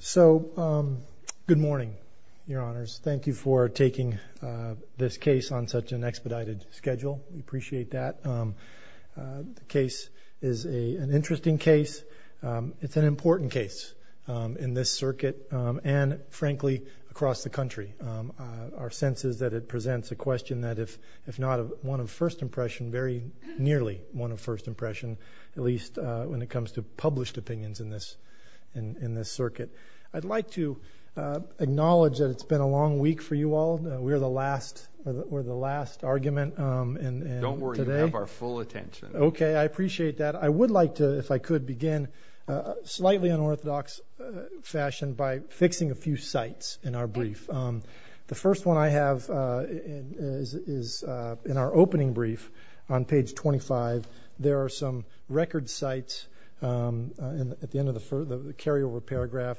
So, good morning, your honors. Thank you for taking this case on such an expedited schedule. We appreciate that. The case is an interesting case. It's an important case in this circuit and, frankly, across the country. Our sense is that it presents a question that, if not one of first impression, very nearly one of first impression, at least when it comes to published opinions in this circuit. I'd like to acknowledge that it's been a long week for you all. We're the last, we're the last argument. Don't worry, we have our full attention. Okay, I appreciate that. I would like to, if I could, begin slightly unorthodox fashion by fixing a few sites in our brief. The first one I have is in our opening brief on page 25. There are some record sites and at the end of the carryover paragraph,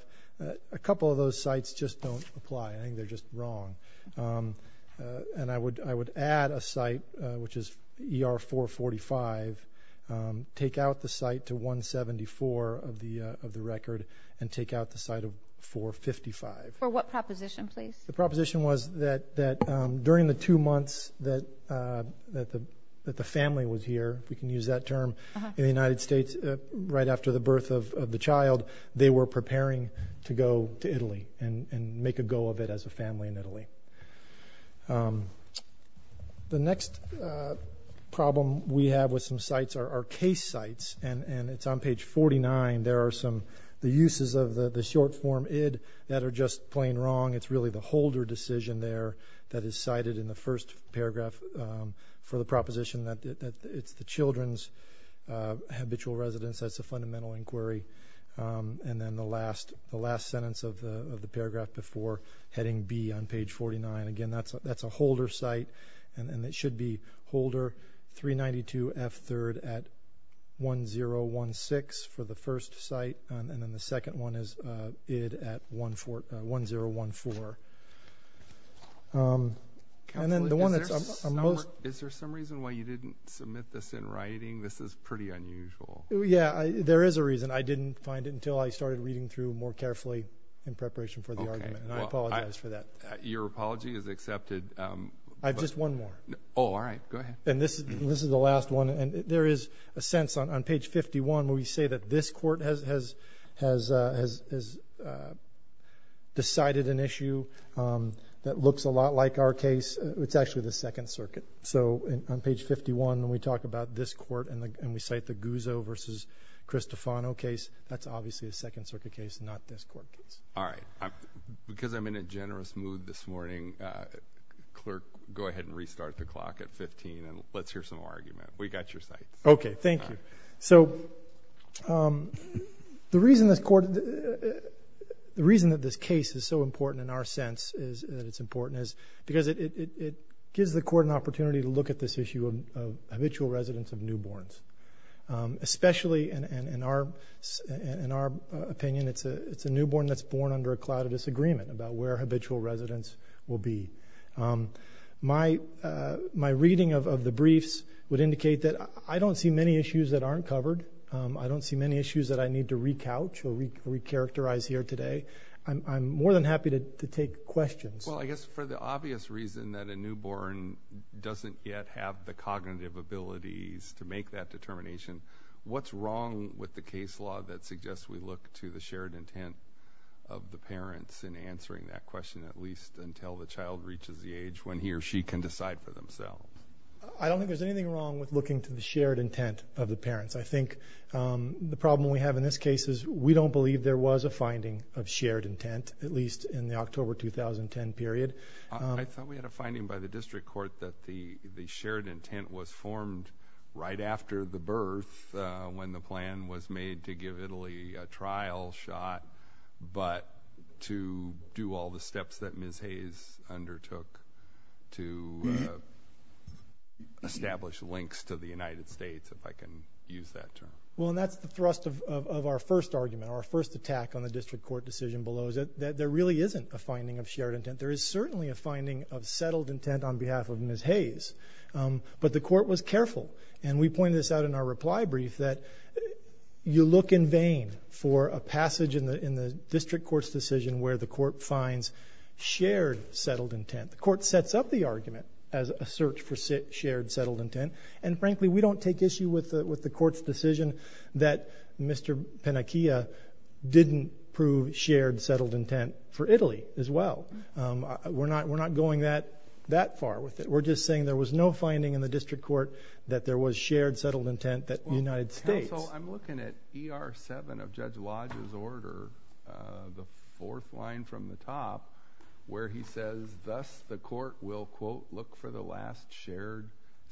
a couple of those sites just don't apply. I think they're just wrong. And I would, I would add a site which is ER 445, take out the site to 174 of the of the record, and take out the site of 455. For what proposition, please? The proposition was that that during the two months that that the that the family was here, we can use that term in the United States, right after the birth of the child, they were preparing to go to Italy and and make a go of it as a family in Italy. The next problem we have with some sites are our case sites and and it's on page 49. There are some the uses of the the short form id that are just plain wrong. It's really the holder decision there that is cited in the first paragraph for the proposition that it's the children's habitual residence. That's a fundamental inquiry. And then the last the last sentence of the paragraph before heading B on page 49. Again that's that's a holder site and it should be holder 392 F 3rd at 1016 for the first site and then the second one is id at 1014. And then the one that's most... Is there some reason why you didn't submit this in writing? This is pretty unusual. Yeah, there is a reason. I didn't find it until I started reading through more carefully in preparation for the argument. I apologize for that. Your apology is accepted. I've just one more. Oh, all right, go ahead. And this is this is the last one and there is a sense on page 51 where we say that this court has has has has decided an issue that looks a lot like our case. It's actually the Second Circuit. So on page 51 when we talk about this court and we cite the Guzzo versus Cristofano case, that's obviously a Second Circuit case, not this court case. All right, because I'm in a generous mood this morning, clerk, go ahead and restart the clock at 15 and let's hear some argument. We got your sites. Okay, thank you. So the reason this court, the reason that this case is so at this issue of habitual residents of newborns, especially in our in our opinion, it's a it's a newborn that's born under a cloud of disagreement about where habitual residents will be. My reading of the briefs would indicate that I don't see many issues that aren't covered. I don't see many issues that I need to re-couch or re-characterize here today. I'm more than happy to take questions. Well, I guess for the obvious reason that a newborn doesn't yet have the cognitive abilities to make that determination, what's wrong with the case law that suggests we look to the shared intent of the parents in answering that question, at least until the child reaches the age when he or she can decide for themselves? I don't think there's anything wrong with looking to the shared intent of the parents. I think the problem we have in this case is we don't believe there was a finding of shared intent, at least in the October 2010 period. I thought we had a finding by the district court that the the shared intent was formed right after the birth when the plan was made to give Italy a trial shot, but to do all the steps that Ms. Hayes undertook to establish links to the United States, if I can use that term. Well, and that's the first argument, our first attack on the district court decision below, is that there really isn't a finding of shared intent. There is certainly a finding of settled intent on behalf of Ms. Hayes, but the court was careful, and we pointed this out in our reply brief, that you look in vain for a passage in the district court's decision where the court finds shared, settled intent. The court sets up the argument as a search for shared, settled intent, and frankly, we don't take issue with the with the court's decision that Mr. Pennacchia didn't prove shared, settled intent for Italy as well. We're not we're not going that that far with it. We're just saying there was no finding in the district court that there was shared, settled intent that the United States... Counsel, I'm looking at ER 7 of Judge Lodge's order, the fourth line from the top, where he says thus the court will, quote, look for the last shared,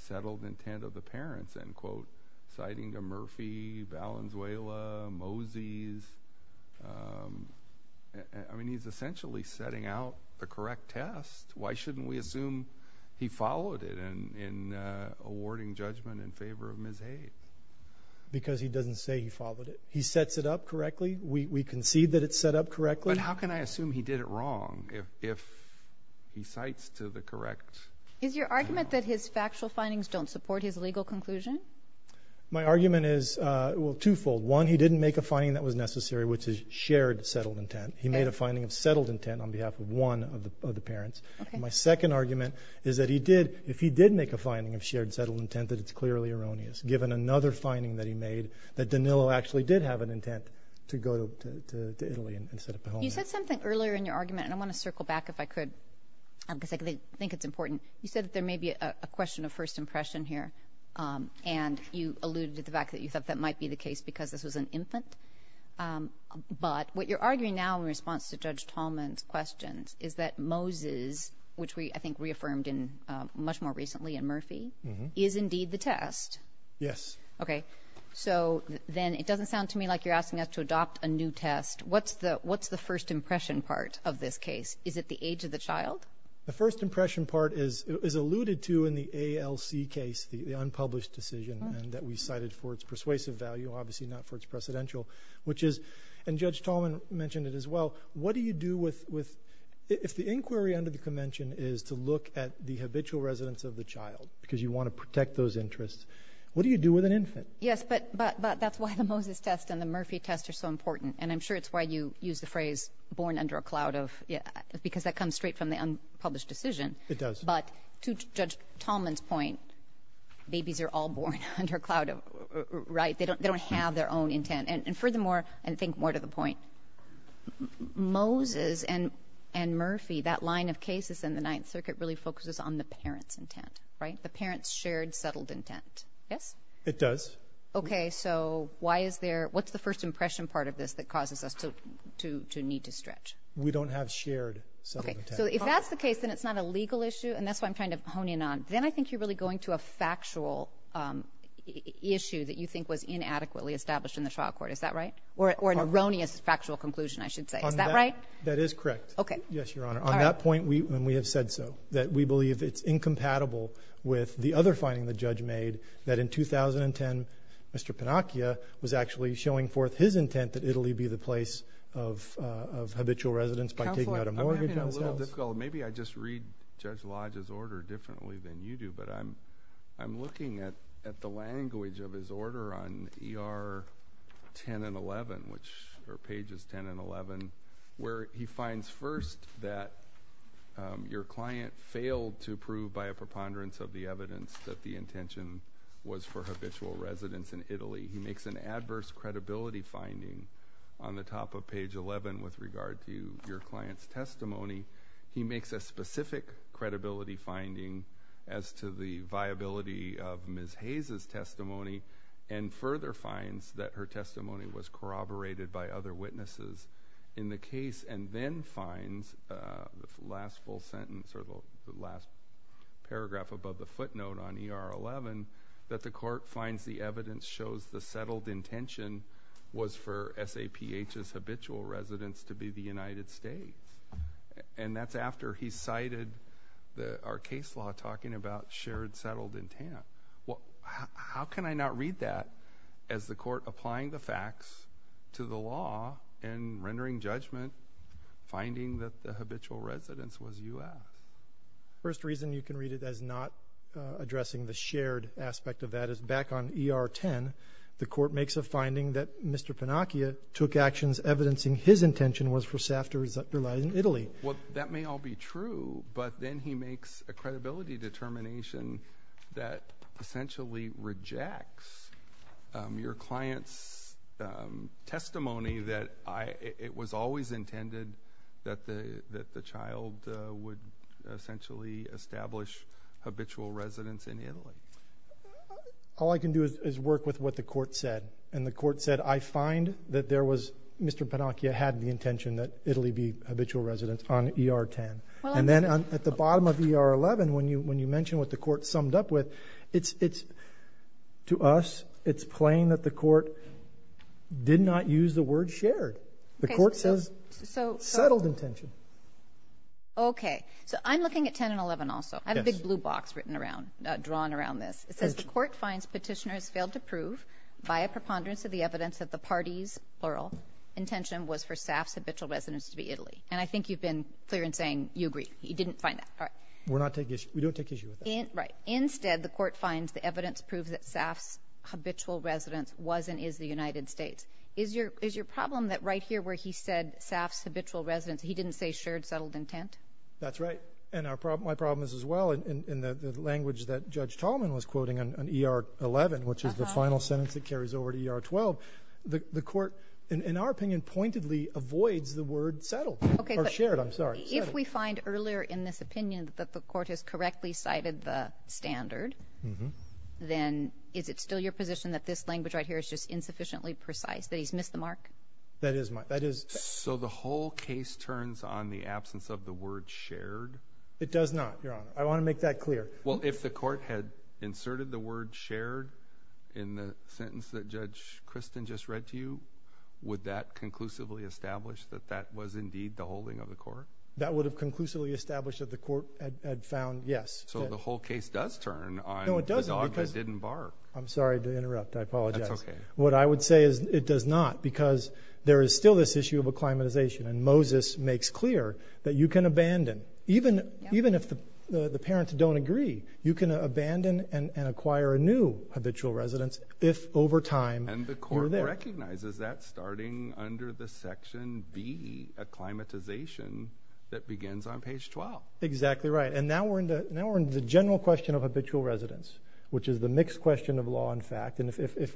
settled intent of the parents, end quote, citing to Murphy, Valenzuela, Mosey's. I mean, he's essentially setting out the correct test. Why shouldn't we assume he followed it in awarding judgment in favor of Ms. Hayes? Because he doesn't say he followed it. He sets it up correctly. We concede that it's set up correctly. But how can I assume he did it wrong if he cites to the correct... Is your argument that his factual findings don't support his legal conclusion? My argument is, well, twofold. One, he didn't make a finding that was necessary, which is shared, settled intent. He made a finding of settled intent on behalf of one of the parents. My second argument is that he did, if he did make a finding of shared, settled intent, that it's clearly erroneous. Given another finding that he made, that Danilo actually did have an intent to go to Italy instead of the home. You said something earlier in your argument, if I could, because I think it's important. You said that there may be a question of first impression here, and you alluded to the fact that you thought that might be the case because this was an infant. But what you're arguing now in response to Judge Tallman's questions is that Moses, which we I think reaffirmed in much more recently in Murphy, is indeed the test. Yes. Okay, so then it doesn't sound to me like you're asking us to adopt a new test. What's the first impression part of this case? Is it the age of the child? The first impression part is alluded to in the ALC case, the unpublished decision and that we cited for its persuasive value, obviously not for its precedential, which is, and Judge Tallman mentioned it as well, what do you do with, if the inquiry under the convention is to look at the habitual residence of the child because you want to protect those interests, what do you do with an infant? Yes, but that's why the Moses test and the Murphy test are so important and I'm sure it's why you use the phrase born under a cloud of, yeah, because that comes straight from the unpublished decision. It does. But to Judge Tallman's point, babies are all born under a cloud of, right, they don't have their own intent. And furthermore, and think more to the point, Moses and Murphy, that line of cases in the Ninth Circuit really focuses on the parents' intent, right? The parents' shared, settled intent. Yes? It does. Okay, so why is the first impression part of this that causes us to need to stretch? We don't have shared settled intent. Okay, so if that's the case, then it's not a legal issue and that's what I'm trying to hone in on. Then I think you're really going to a factual issue that you think was inadequately established in the trial court. Is that right? Or an erroneous factual conclusion, I should say. Is that right? That is correct. Okay. Yes, Your Honor. On that point, and we have said so, that we believe it's incompatible with the other finding the judge made that in 2010, Mr. Panacchia was actually showing forth his intent that Italy be the place of habitual residence by taking out a mortgage on his house. Counselor, I'm having a little difficulty. Maybe I just read Judge Lodge's order differently than you do, but I'm looking at the language of his order on ER 10 and 11, which are pages 10 and 11, where he finds first that your client failed to prove by a preponderance of the evidence that the evidence was corroborated. He makes an adverse credibility finding on the top of page 11 with regard to your client's testimony. He makes a specific credibility finding as to the viability of Ms. Hayes' testimony, and further finds that her testimony was corroborated by other witnesses in the case, and then finds the last full sentence, or the last paragraph above the footnote on ER 11, that the court finds the evidence shows the settled intention was for SAPH's habitual residence to be the United States, and that's after he cited our case law talking about shared settled intent. Well, how can I not read that as the court applying the facts to the law and rendering judgment finding that the habitual residence was U.S.? First reason you can read it as not addressing the shared aspect of that is back on ER 10, the court makes a finding that Mr. Pinocchio took actions evidencing his intention was for SAPH to reside in Italy. Well, that may all be true, but then he makes a credibility determination that essentially rejects your client's testimony that it was always intended that the child would essentially establish habitual residence in Italy. All I can do is work with what the court said, and the court said I find that there was Mr. Pinocchio had the intention that Italy be habitual residence on ER 10, and then at the bottom of ER 11, when you when you mention what the court summed up with, it's to us, it's plain that the court did not use the word shared. The court says settled intention. Okay, so I'm looking at 10 and 11 also. I have a big blue box written around, drawn around this. It says the court finds petitioners failed to prove by a preponderance of the evidence that the party's, plural, intention was for SAPH's habitual residence to be Italy, and I think you've been clear in saying you agree. You didn't find that. All right. We're not taking, we don't take issue with that. Right. Instead, the court finds the evidence proves that SAPH's habitual residence was and is the United States. Is your, is your problem that right here where he said SAPH's habitual residence, he didn't say shared, settled intent? That's right, and our problem, my problem is as well in the language that Judge Tolman was quoting on ER 11, which is the final sentence that carries over to ER 12. The court, in our opinion, pointedly avoids the word settled. Okay. Or shared, I'm sorry. If we find earlier in this opinion that the court has correctly cited the standard, then is it still your position that this language right here is just insufficiently precise, that he's missed the mark? That is my, that is. So the whole case turns on the absence of the word shared? It does not, Your Honor. I want to make that clear. Well, if the court had inserted the word shared in the sentence that Judge Christin just read to you, would that conclusively establish that that was indeed the holding of the court? That would have conclusively established that the court had found, yes. So the whole case does turn on the dog that didn't bark. No, it doesn't. I'm sorry to interrupt. I apologize. What I would say is it does not, because there is still this issue of acclimatization, and Moses makes clear that you can abandon, even if the parents don't agree, you can abandon and acquire a new habitual residence if, over time, you're there. And the court recognizes that starting under the section B, acclimatization, that begins on page 12. Exactly right. And now we're into the general question of habitual residence, which is the mixed question of law and fact. And if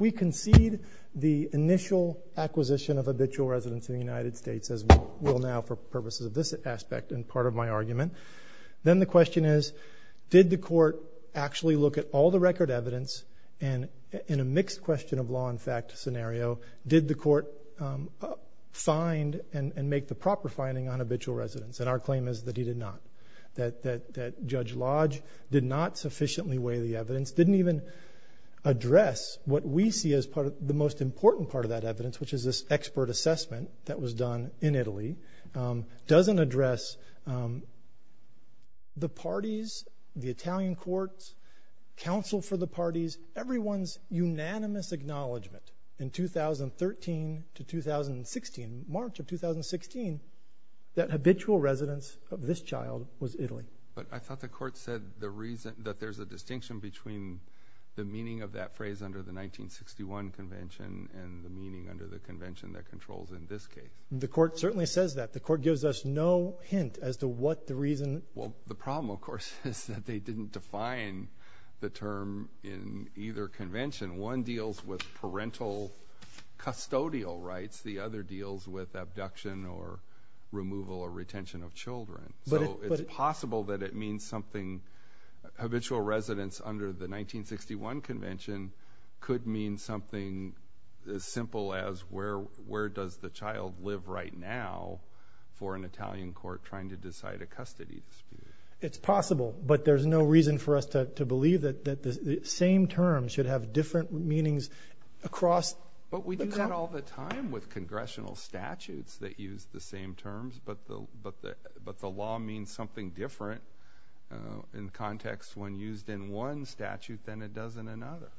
we concede the initial acquisition of habitual residence in the United States, as we will now for purposes of this aspect and part of my argument, then the question is, did the court actually look at all the record evidence, and in a mixed question of law and fact scenario, did the court find and make the proper finding on habitual residence? And our claim is that it did not. That Judge Lodge did not sufficiently weigh the evidence, didn't even address what we see as the most important part of that evidence, which is this expert assessment that was done in Italy, doesn't address the parties, the Italian courts, counsel for the parties, everyone's unanimous acknowledgment in 2013 to 2016, March of 2016, that habitual residence of this child was Italy. But I thought the court said the reason that there's a distinction between the meaning of that phrase under the 1961 convention and the meaning under the convention that controls in this case. The court certainly says that. The court gives us no hint as to what the reason. Well, the problem, of course, is that they custodial rights. The other deals with abduction or removal or retention of children. So it's possible that it means something. Habitual residence under the 1961 convention could mean something as simple as where does the child live right now for an Italian court trying to decide a custody dispute. It's possible, but there's no reason for us to believe that the same term should have different meanings across... But we do that all the time with congressional statutes that use the same terms, but the law means something different in context when used in one statute than it does in another.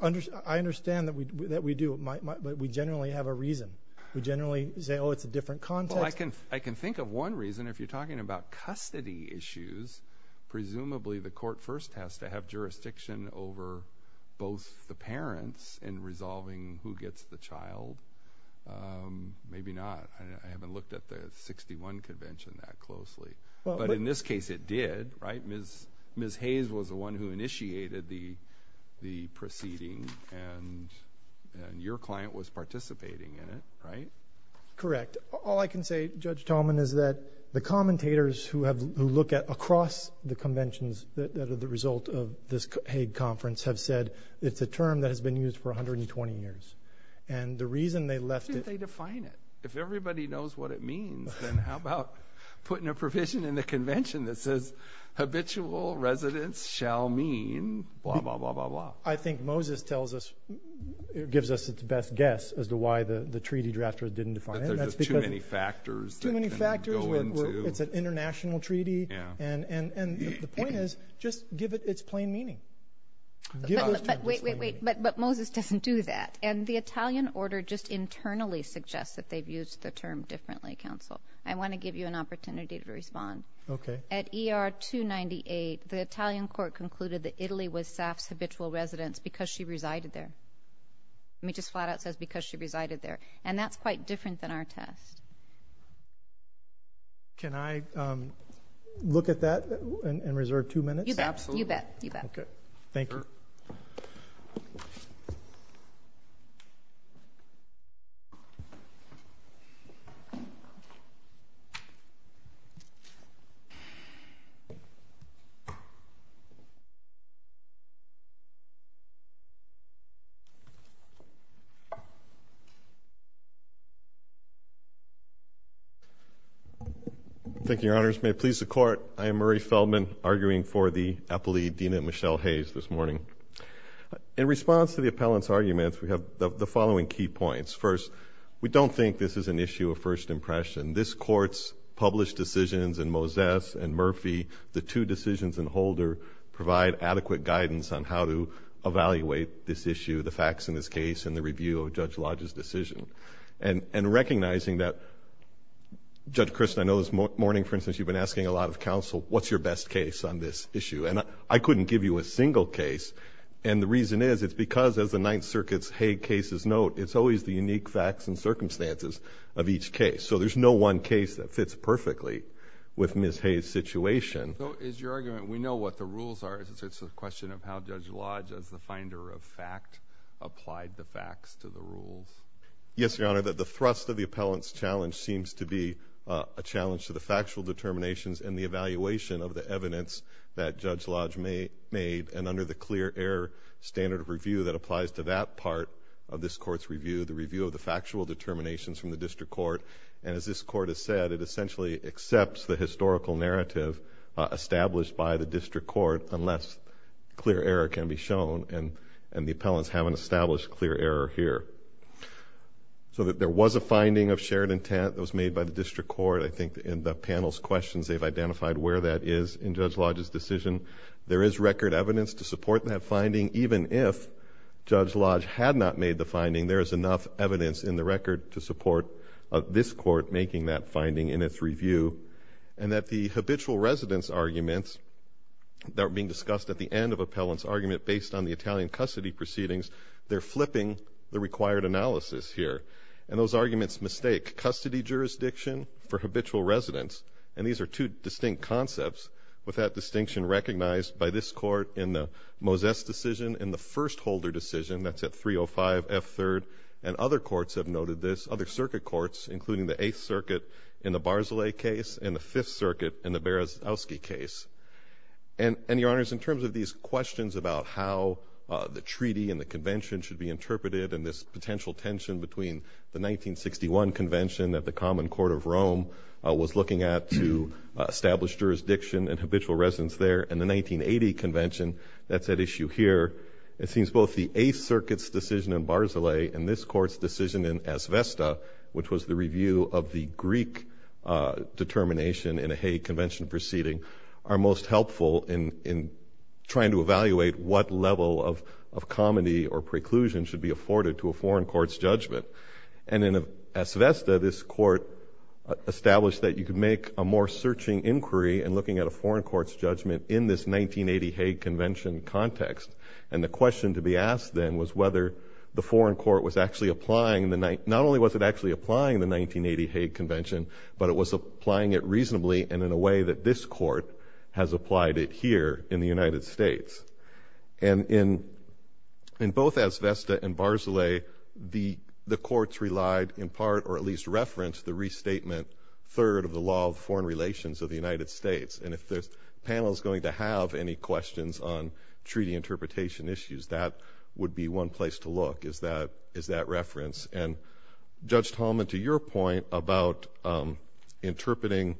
I understand that we do, but we generally have a reason. We generally say, oh, it's a different context. I can think of one reason. If you're talking about custody issues, presumably the court first has to have jurisdiction over both the parents in resolving who gets the child. Maybe not. I haven't looked at the 61 convention that closely, but in this case it did, right? Ms. Hayes was the one who initiated the proceeding and your client was participating in it, right? Correct. All I can say, Judge Tallman, is that the commentators who look across the conventions that are the result of this Hague conference have said it's a term that has been used for 120 years. And the reason they left it... Why didn't they define it? If everybody knows what it means, then how about putting a provision in the convention that says, habitual residents shall mean blah, blah, blah, blah, blah. I think Moses gives us its best guess as to why the treaty drafters didn't define it. But there's just too many factors that can go into... It's an international treaty. And the point is, just give it its plain meaning. But Moses doesn't do that. And the Italian order just internally suggests that they've used the term differently, counsel. I want to give you an opportunity to respond. Okay. At ER 298, the Italian court concluded that Italy was Saf's habitual residence because she resided there. It just flat-out says because she resided there. And that's quite different than our test. Can I look at that and reserve two minutes? Absolutely. You bet. You bet. Okay. Thank you. Thank you, Your Honors. May it please the Court, I am Murray Feldman, arguing for the appellee, Dina Michelle Hayes, this morning. In response to the appellant's arguments, we have the following key points. First, we don't think this is an issue of first impression. This Court's published decisions in Moses and Murphy, the two decisions in Holder, provide adequate guidance on how to evaluate this issue, the facts in this case, and the review of Judge Lodge's decision. And recognizing that, Judge Christin, I know this morning, for instance, you've been asking a lot of counsel, what's your best case on this issue? And I couldn't give you a single case. And the reason is, it's because, as the Ninth Circuit's Hayes cases note, it's always the unique facts and circumstances of each case. So there's no one case that fits perfectly with Ms. Hayes' situation. So is your argument, we know what the rules are. It's a question of how Judge Lodge's order of fact applied the facts to the rules. Yes, Your Honor. The thrust of the appellant's challenge seems to be a challenge to the factual determinations and the evaluation of the evidence that Judge Lodge made, and under the clear error standard of review that applies to that part of this Court's review, the review of the factual determinations from the District Court. And as this Court has said, it essentially accepts the historical narrative established by the District Court, unless clear error can be shown. And the appellants haven't established clear error here. So that there was a finding of shared intent that was made by the District Court. I think in the panel's questions, they've identified where that is in Judge Lodge's decision. There is record evidence to support that finding. Even if Judge Lodge had not made the finding, there is enough evidence in the record to support this Court making that finding in its review. And that the habitual residence arguments that are being discussed at the end of appellant's argument based on the Italian custody proceedings, they're flipping the required analysis here. And those arguments mistake custody jurisdiction for habitual residence. And these are two distinct concepts, with that distinction recognized by this Court in the Mozes decision and the Firstholder decision. That's at 305 F. 3rd. And other courts have noted this. Other circuit courts, including the Eighth Circuit in the In terms of these questions about how the treaty and the convention should be interpreted, and this potential tension between the 1961 convention that the Common Court of Rome was looking at to establish jurisdiction and habitual residence there, and the 1980 convention, that's at issue here. It seems both the Eighth Circuit's decision in Barzilay and this Court's decision in Asvesta, which was the review of the Greek determination in a Hague convention proceeding, are most helpful in trying to evaluate what level of comedy or preclusion should be afforded to a foreign court's judgment. And in Asvesta, this Court established that you could make a more searching inquiry in looking at a foreign court's judgment in this 1980 Hague convention context. And the question to be asked then was whether the foreign court was actually applying the 1980, not only was it actually applying the 1980 Hague convention, but it was applying it reasonably and in a way that this Court has applied it here in the United States. And in both Asvesta and Barzilay, the courts relied in part, or at least referenced, the restatement third of the law of foreign relations of the United States. And if this panel is going to have any questions on treaty interpretation issues, that would be one place to look, is that reference. And interpreting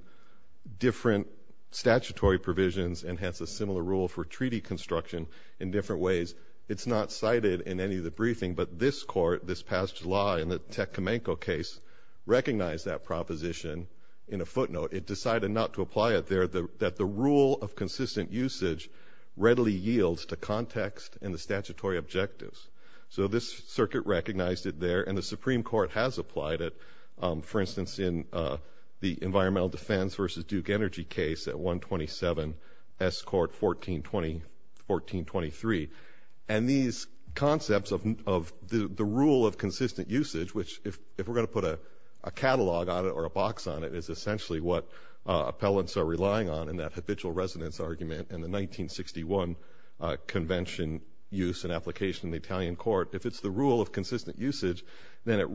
different statutory provisions, and hence a similar rule for treaty construction, in different ways. It's not cited in any of the briefing, but this Court this past July in the Tecumseh case recognized that proposition in a footnote. It decided not to apply it there, that the rule of consistent usage readily yields to context and the statutory objectives. So this circuit recognized it there, and the Supreme Court has applied it, for instance, in the Environmental Defense versus Duke Energy case at 127 S. Court 1420-1423. And these concepts of the rule of consistent usage, which if we're going to put a catalog on it or a box on it, is essentially what appellants are relying on in that habitual residence argument in the 1961 convention use and application in the Italian Court. If it's the rule of consistent usage, then it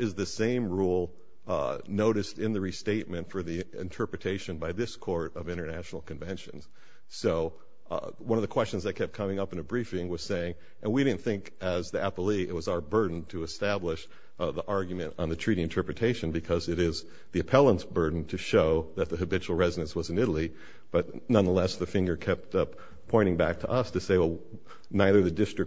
is the same rule noticed in the restatement for the interpretation by this Court of international conventions. So one of the questions that kept coming up in a briefing was saying, and we didn't think as the appellee it was our burden to establish the argument on the treaty interpretation, because it is the appellant's burden to show that the habitual residence was in Italy, but nonetheless the finger kept up pointing back to us to say, well, neither the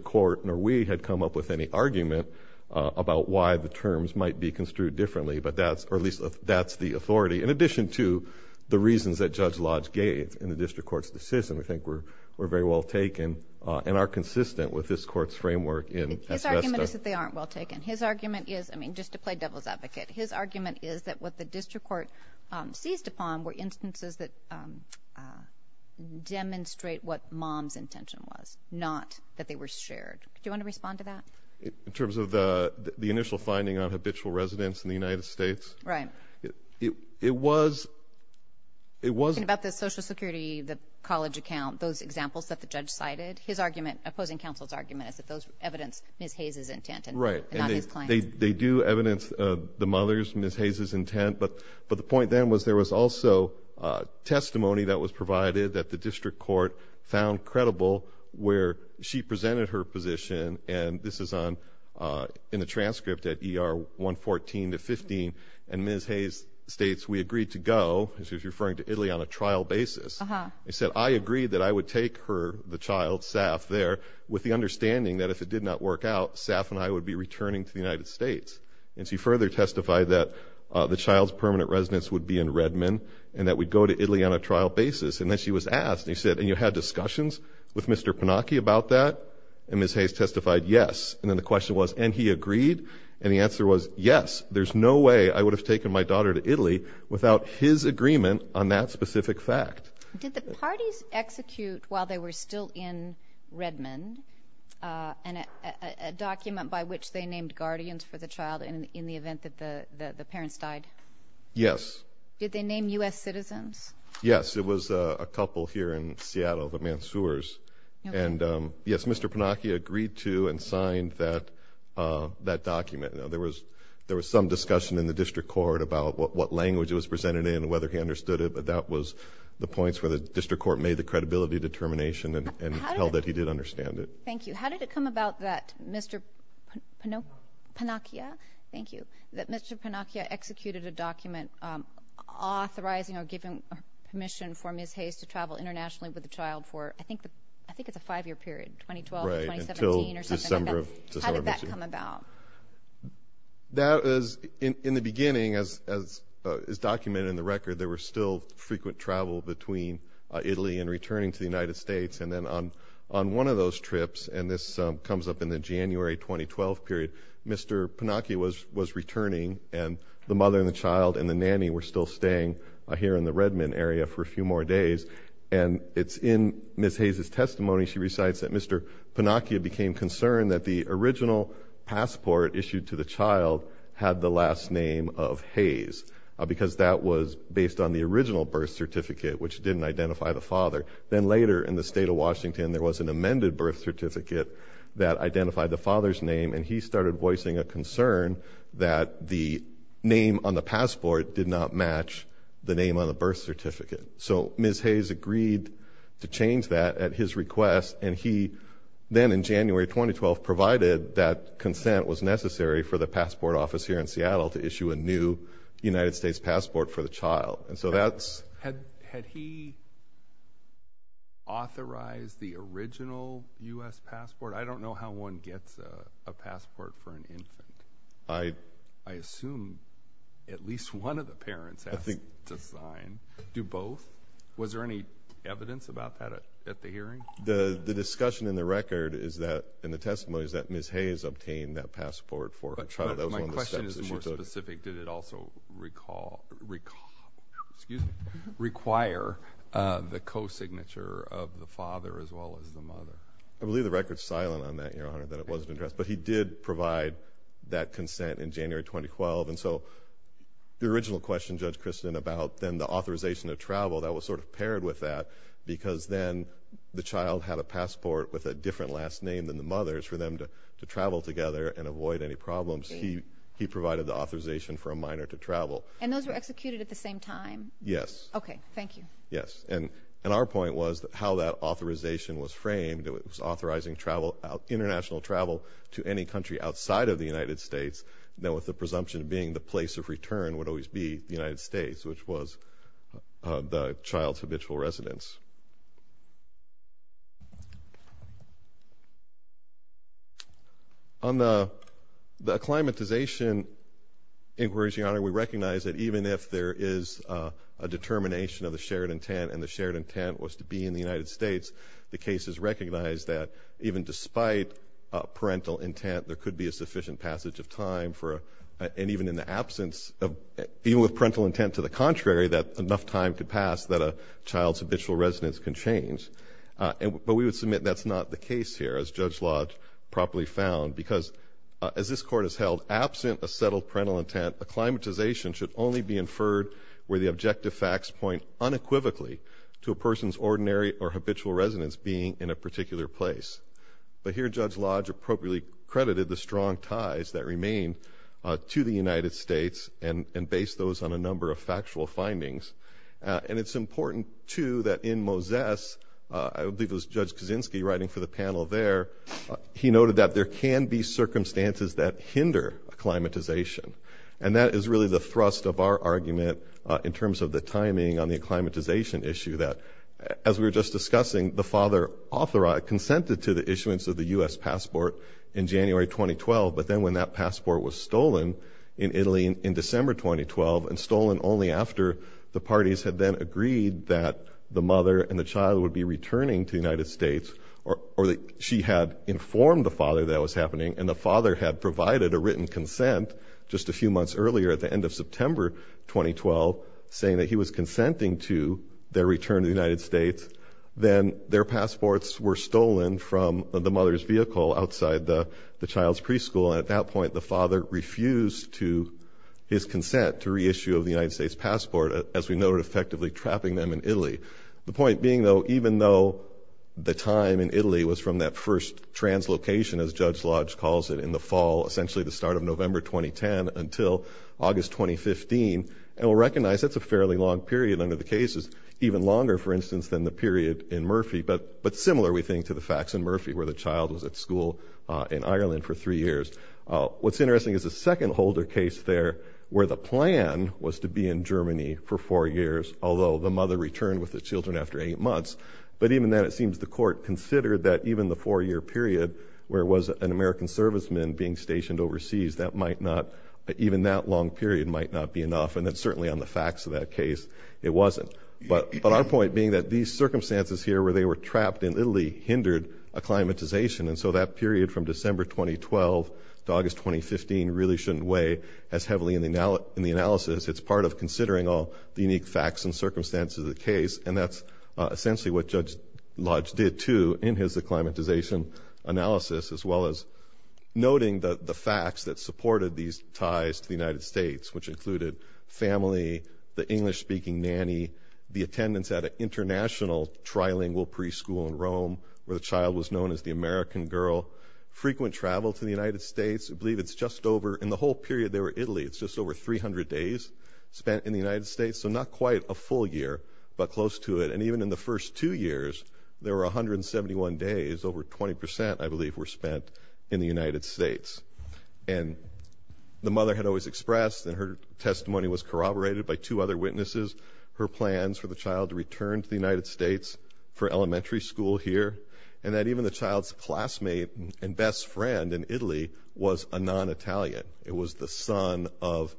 why the terms might be construed differently, but that's, or at least that's the authority. In addition to the reasons that Judge Lodge gave in the district court's decision, I think we're very well taken and are consistent with this court's framework. His argument is that they aren't well taken. His argument is, I mean just to play devil's advocate, his argument is that what the district court seized upon were instances that demonstrate what mom's intention was, not that they were shared. Do you want to respond to that? In terms of the initial finding on habitual residence in the United States? Right. It was, it was... Talking about the Social Security, the college account, those examples that the judge cited, his argument, opposing counsel's argument, is that those evidence Ms. Hayes' intent and not his claim. Right. They do evidence the mother's, Ms. Hayes' intent, but the point then was there was also testimony that was provided that the district court found credible where she presented her position, and this is on, in the transcript at ER 114 to 15, and Ms. Hayes states, we agreed to go, she was referring to Italy on a trial basis, they said, I agreed that I would take her, the child, Saf, there with the understanding that if it did not work out, Saf and I would be returning to the United States. And she further testified that the child's permanent residence would be in Redmond and that we'd go to Italy on a And he said, and you had discussions with Mr. Panacchi about that? And Ms. Hayes testified, yes. And then the question was, and he agreed? And the answer was, yes, there's no way I would have taken my daughter to Italy without his agreement on that specific fact. Did the parties execute, while they were still in Redmond, a document by which they named guardians for the child in the event that the And, yes, Mr. Panacchia agreed to and signed that, that document. Now, there was, there was some discussion in the district court about what language it was presented in, whether he understood it, but that was the points where the district court made the credibility determination and held that he did understand it. Thank you. How did it come about that Mr. Panacchia, thank you, that Mr. Panacchia executed a document authorizing or giving permission for Ms. internationally with the child for, I think, I think it's a five-year period, 2012 to 2017 or something like that. Right, until December of 2017. How did that come about? That is, in the beginning, as is documented in the record, there were still frequent travel between Italy and returning to the United States. And then on, on one of those trips, and this comes up in the January 2012 period, Mr. Panacchia was, was returning and the mother and the child and the nanny were still staying here in the Redmond area for a few more days. And it's in Ms. Hayes' testimony, she recites that Mr. Panacchia became concerned that the original passport issued to the child had the last name of Hayes, because that was based on the original birth certificate, which didn't identify the father. Then later, in the state of Washington, there was an amended birth certificate that identified the father's name, and he started voicing a concern that the name on the passport did not match the name on the birth certificate. So Ms. Hayes agreed to change that at his request, and he then, in January 2012, provided that consent was necessary for the passport office here in Seattle to issue a new United States passport for the child. And so that's... Had, had he authorized the original U.S. passport? I don't know how one gets a passport for an infant. I, I assume at least one of the parents has to sign. Do both? Was there any evidence about that at the hearing? The, the discussion in the record is that, in the testimony, is that Ms. Hayes obtained that passport for a child. That was one of the steps that she took. But my question is more specific. Did it also recall, recall, excuse me, require the co-signature of the father as well as the mother? I believe the record's silent on that, Your Honor, that it wasn't addressed. But he did provide that consent in January 2012, and so the original question, Judge Kristen, about then the authorization to travel, that was sort of paired with that, because then the child had a passport with a different last name than the mother's for them to, to travel together and avoid any problems. He, he provided the authorization for a minor to travel. And those were executed at the same time? Yes. Okay, thank you. Yes, and, and our point was that how that authorization was framed, it was authorizing travel out, international travel to any country outside of the United States, then with the presumption being the place of return would always be the United States, which was the child's habitual residence. On the, the acclimatization inquiries, Your Honor, we recognize that even if there is a determination of the shared intent, and the shared intent was to be in the despite parental intent, there could be a sufficient passage of time for, and even in the absence of, even with parental intent to the contrary, that enough time could pass that a child's habitual residence can change. And, but we would submit that's not the case here, as Judge Lodge properly found, because as this Court has held, absent a settled parental intent, acclimatization should only be inferred where the objective facts point unequivocally to a person's ordinary or particular place. But here, Judge Lodge appropriately credited the strong ties that remain to the United States and, and based those on a number of factual findings. And it's important, too, that in Moses, I believe it was Judge Kaczynski writing for the panel there, he noted that there can be circumstances that hinder acclimatization. And that is really the thrust of our argument in terms of the timing on the acclimatization issue, that as we were just discussing, the father authorized, consented to the issuance of the U.S. passport in January 2012, but then when that passport was stolen in Italy in December 2012, and stolen only after the parties had then agreed that the mother and the child would be returning to the United States, or that she had informed the father that was happening, and the father had provided a written consent just a few months earlier, at the end of September 2012, saying that he was then their passports were stolen from the mother's vehicle outside the child's preschool. And at that point, the father refused to, his consent to reissue of the United States passport, as we noted, effectively trapping them in Italy. The point being, though, even though the time in Italy was from that first translocation, as Judge Lodge calls it, in the fall, essentially the start of November 2010 until August 2015, and we'll recognize that's a fairly long period under the cases, even longer, for instance, than the period in Murphy, but similar, we think, to the facts in Murphy, where the child was at school in Ireland for three years. What's interesting is the second holder case there, where the plan was to be in Germany for four years, although the mother returned with the children after eight months. But even then, it seems the court considered that even the four-year period, where it was an American serviceman being stationed overseas, that might not, even that long period might not be enough, and that certainly on the facts of that case, it wasn't. But our point being that these circumstances here, where they were trapped in Italy, hindered acclimatization, and so that period from December 2012 to August 2015 really shouldn't weigh as heavily in the analysis. It's part of considering all the unique facts and circumstances of the case, and that's essentially what Judge Lodge did, too, in his acclimatization analysis, as well as noting the facts that supported these ties to the United States, which included family, the English-speaking nanny, the attendance at an international trilingual preschool in Rome, where the child was known as the American girl, frequent travel to the United States. I believe it's just over, in the whole period they were in Italy, it's just over 300 days spent in the United States, so not quite a full year, but close to it. And even in the first two years, there were 171 days, over 20 percent, I believe, were spent in the United States. And the testimony was corroborated by two other witnesses, her plans for the child to return to the United States for elementary school here, and that even the child's classmate and best friend in Italy was a non-Italian. It was the son of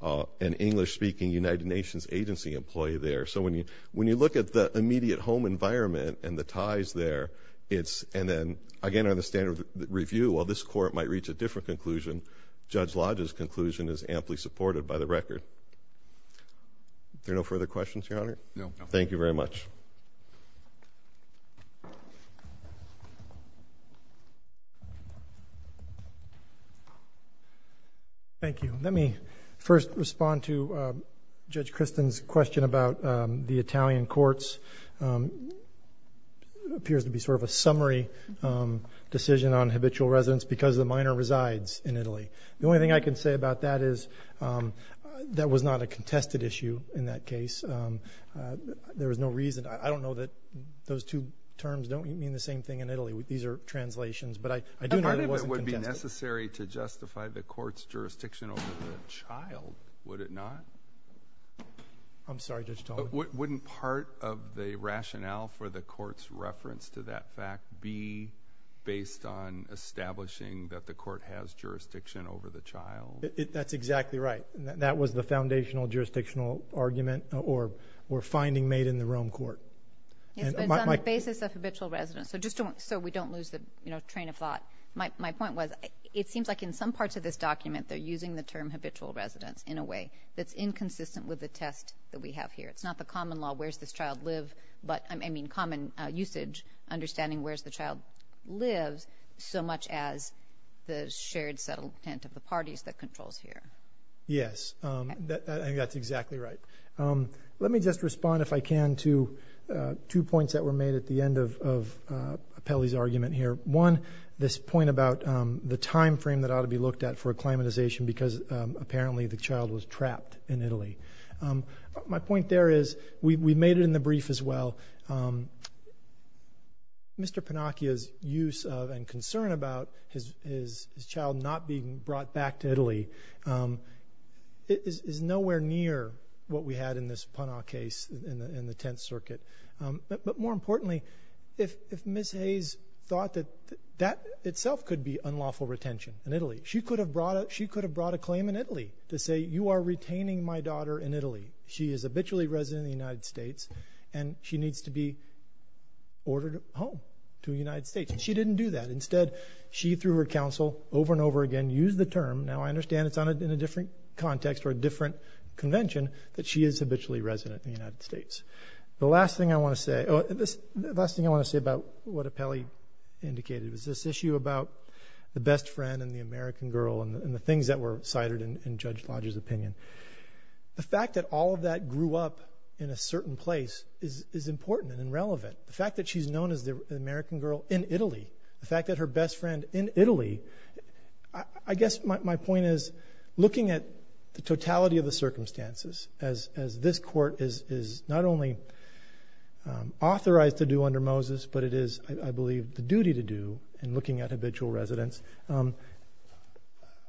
an English-speaking United Nations agency employee there. So when you look at the immediate home environment and the ties there, and then again under the standard review, while this court might reach a different conclusion, Judge Lodge's conclusion is amply supported by the record. There are no further questions, Your Honor? No. Thank you very much. Thank you. Let me first respond to Judge Kristen's question about the Italian courts. Appears to be sort of a summary decision on habitual residence because the minor resides in Italy. The only thing I can say about that is that was not a contested issue in that case. There was no reason. I don't know that those two terms don't mean the same thing in Italy. These are translations, but I do know it wasn't contested. Part of it would be necessary to justify the court's jurisdiction over the child, would it not? I'm sorry, Judge Talmadge? Wouldn't part of the rationale for the court's reference to that fact be based on establishing that the court has jurisdiction over the child? That's exactly right. That was the foundational jurisdictional argument or finding made in the Rome Court. It's on the basis of habitual residence, so we don't lose the train of thought. My point was, it seems like in some parts of this document they're using the term habitual residence in a way that's inconsistent with the test that we have here. It's not the common law, where's this child live, but I mean common usage, understanding where's the child lives, so much as the shared settlement of the parties that controls here. Yes, that's exactly right. Let me just respond, if I can, to two points that were made at the end of Pelli's argument here. One, this point about the time frame that ought to be looked at for acclimatization because apparently the child was trapped in while Mr. Panacchia's use of and concern about his child not being brought back to Italy is nowhere near what we had in this Panacchia case in the Tenth Circuit. But more importantly, if Ms. Hayes thought that that itself could be unlawful retention in Italy, she could have brought a claim in Italy to say you are retaining my daughter in Italy. She is habitually resident in the United States and she needs to be ordered home to the United States. She didn't do that. Instead, she threw her counsel over and over again, used the term, now I understand it's on it in a different context or a different convention, that she is habitually resident in the United States. The last thing I want to say, the last thing I want to say about what a Pelli indicated was this issue about the best friend and the American girl and the things that were cited in Judge Lodge's opinion. The fact that all of that grew up in a certain place is important and relevant. The fact that she's known as the American girl in Italy, the fact that her best friend in Italy, I guess my point is looking at the totality of the circumstances, as this court is not only authorized to do under Moses, but it is, I believe, the duty to do in looking at habitual residence.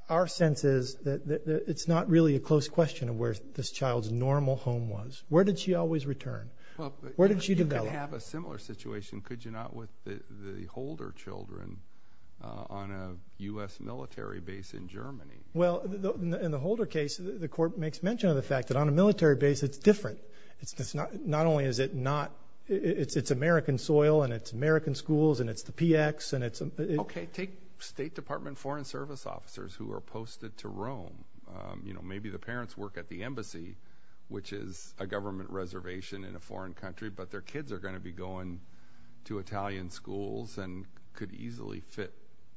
Our sense is that it's not really a close question of where this child's normal home was. Where did she always return? Where did she develop? You could have a similar situation, could you not, with the Holder children on a U.S. military base in Germany? Well, in the Holder case, the court makes mention of the fact that on a military base, it's different. It's not only is it not, it's American soil and it's American schools and it's the PX and it's... Okay, take State Department Foreign Service officers who are posted to Rome. You know, maybe the parents work at the embassy, which is a government reservation in a foreign country, but their kids are going to be going to Italian schools and could easily fit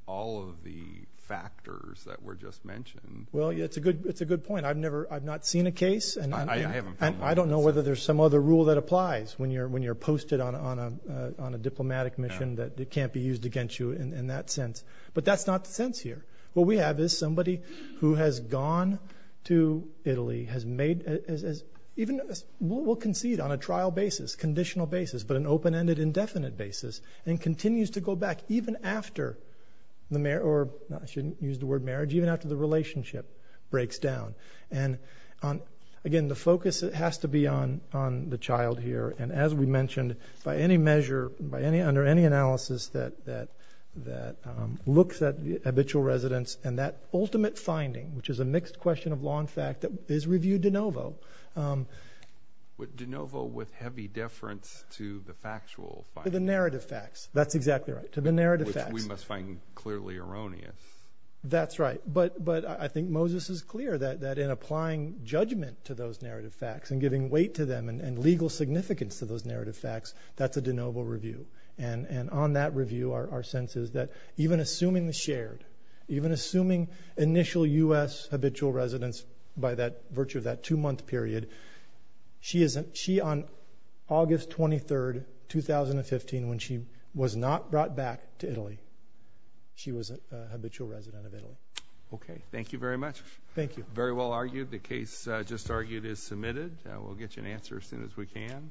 all of the factors that were just mentioned. Well, it's a good point. I've never, I've not seen a case and I don't know whether there's some other rule that applies when you're posted on a diplomatic mission that can't be used against you in that sense. But that's not the sense here. What we have is somebody who has gone to Italy, has made, even will concede on a trial basis, conditional basis, but an open-ended, indefinite basis, and continues to go back even after the marriage, or I shouldn't use the word marriage, even after the relationship breaks down. And again, the focus has to be on the child here. And as we mentioned, by any measure, under any analysis that looks at habitual residence and that ultimate finding, which is a mixed question of law and fact, that is reviewed de novo. But de novo with heavy deference to the factual finding. To the narrative facts, that's exactly right, to the narrative facts. Which we must find clearly erroneous. That's right, but I think Moses is clear that in applying judgment to those narrative facts and giving weight to them and legal significance to those narrative facts, that's a de novo review. And on that review, our sense is that even assuming the shared, even assuming initial US habitual residence by that virtue of that two-month period, she on August 23rd, 2015, when she was not brought back to Italy, she was a habitual resident of Italy. Okay, thank you very much. Thank you. Very well argued. The case just argued is submitted. We'll get an answer as soon as we can.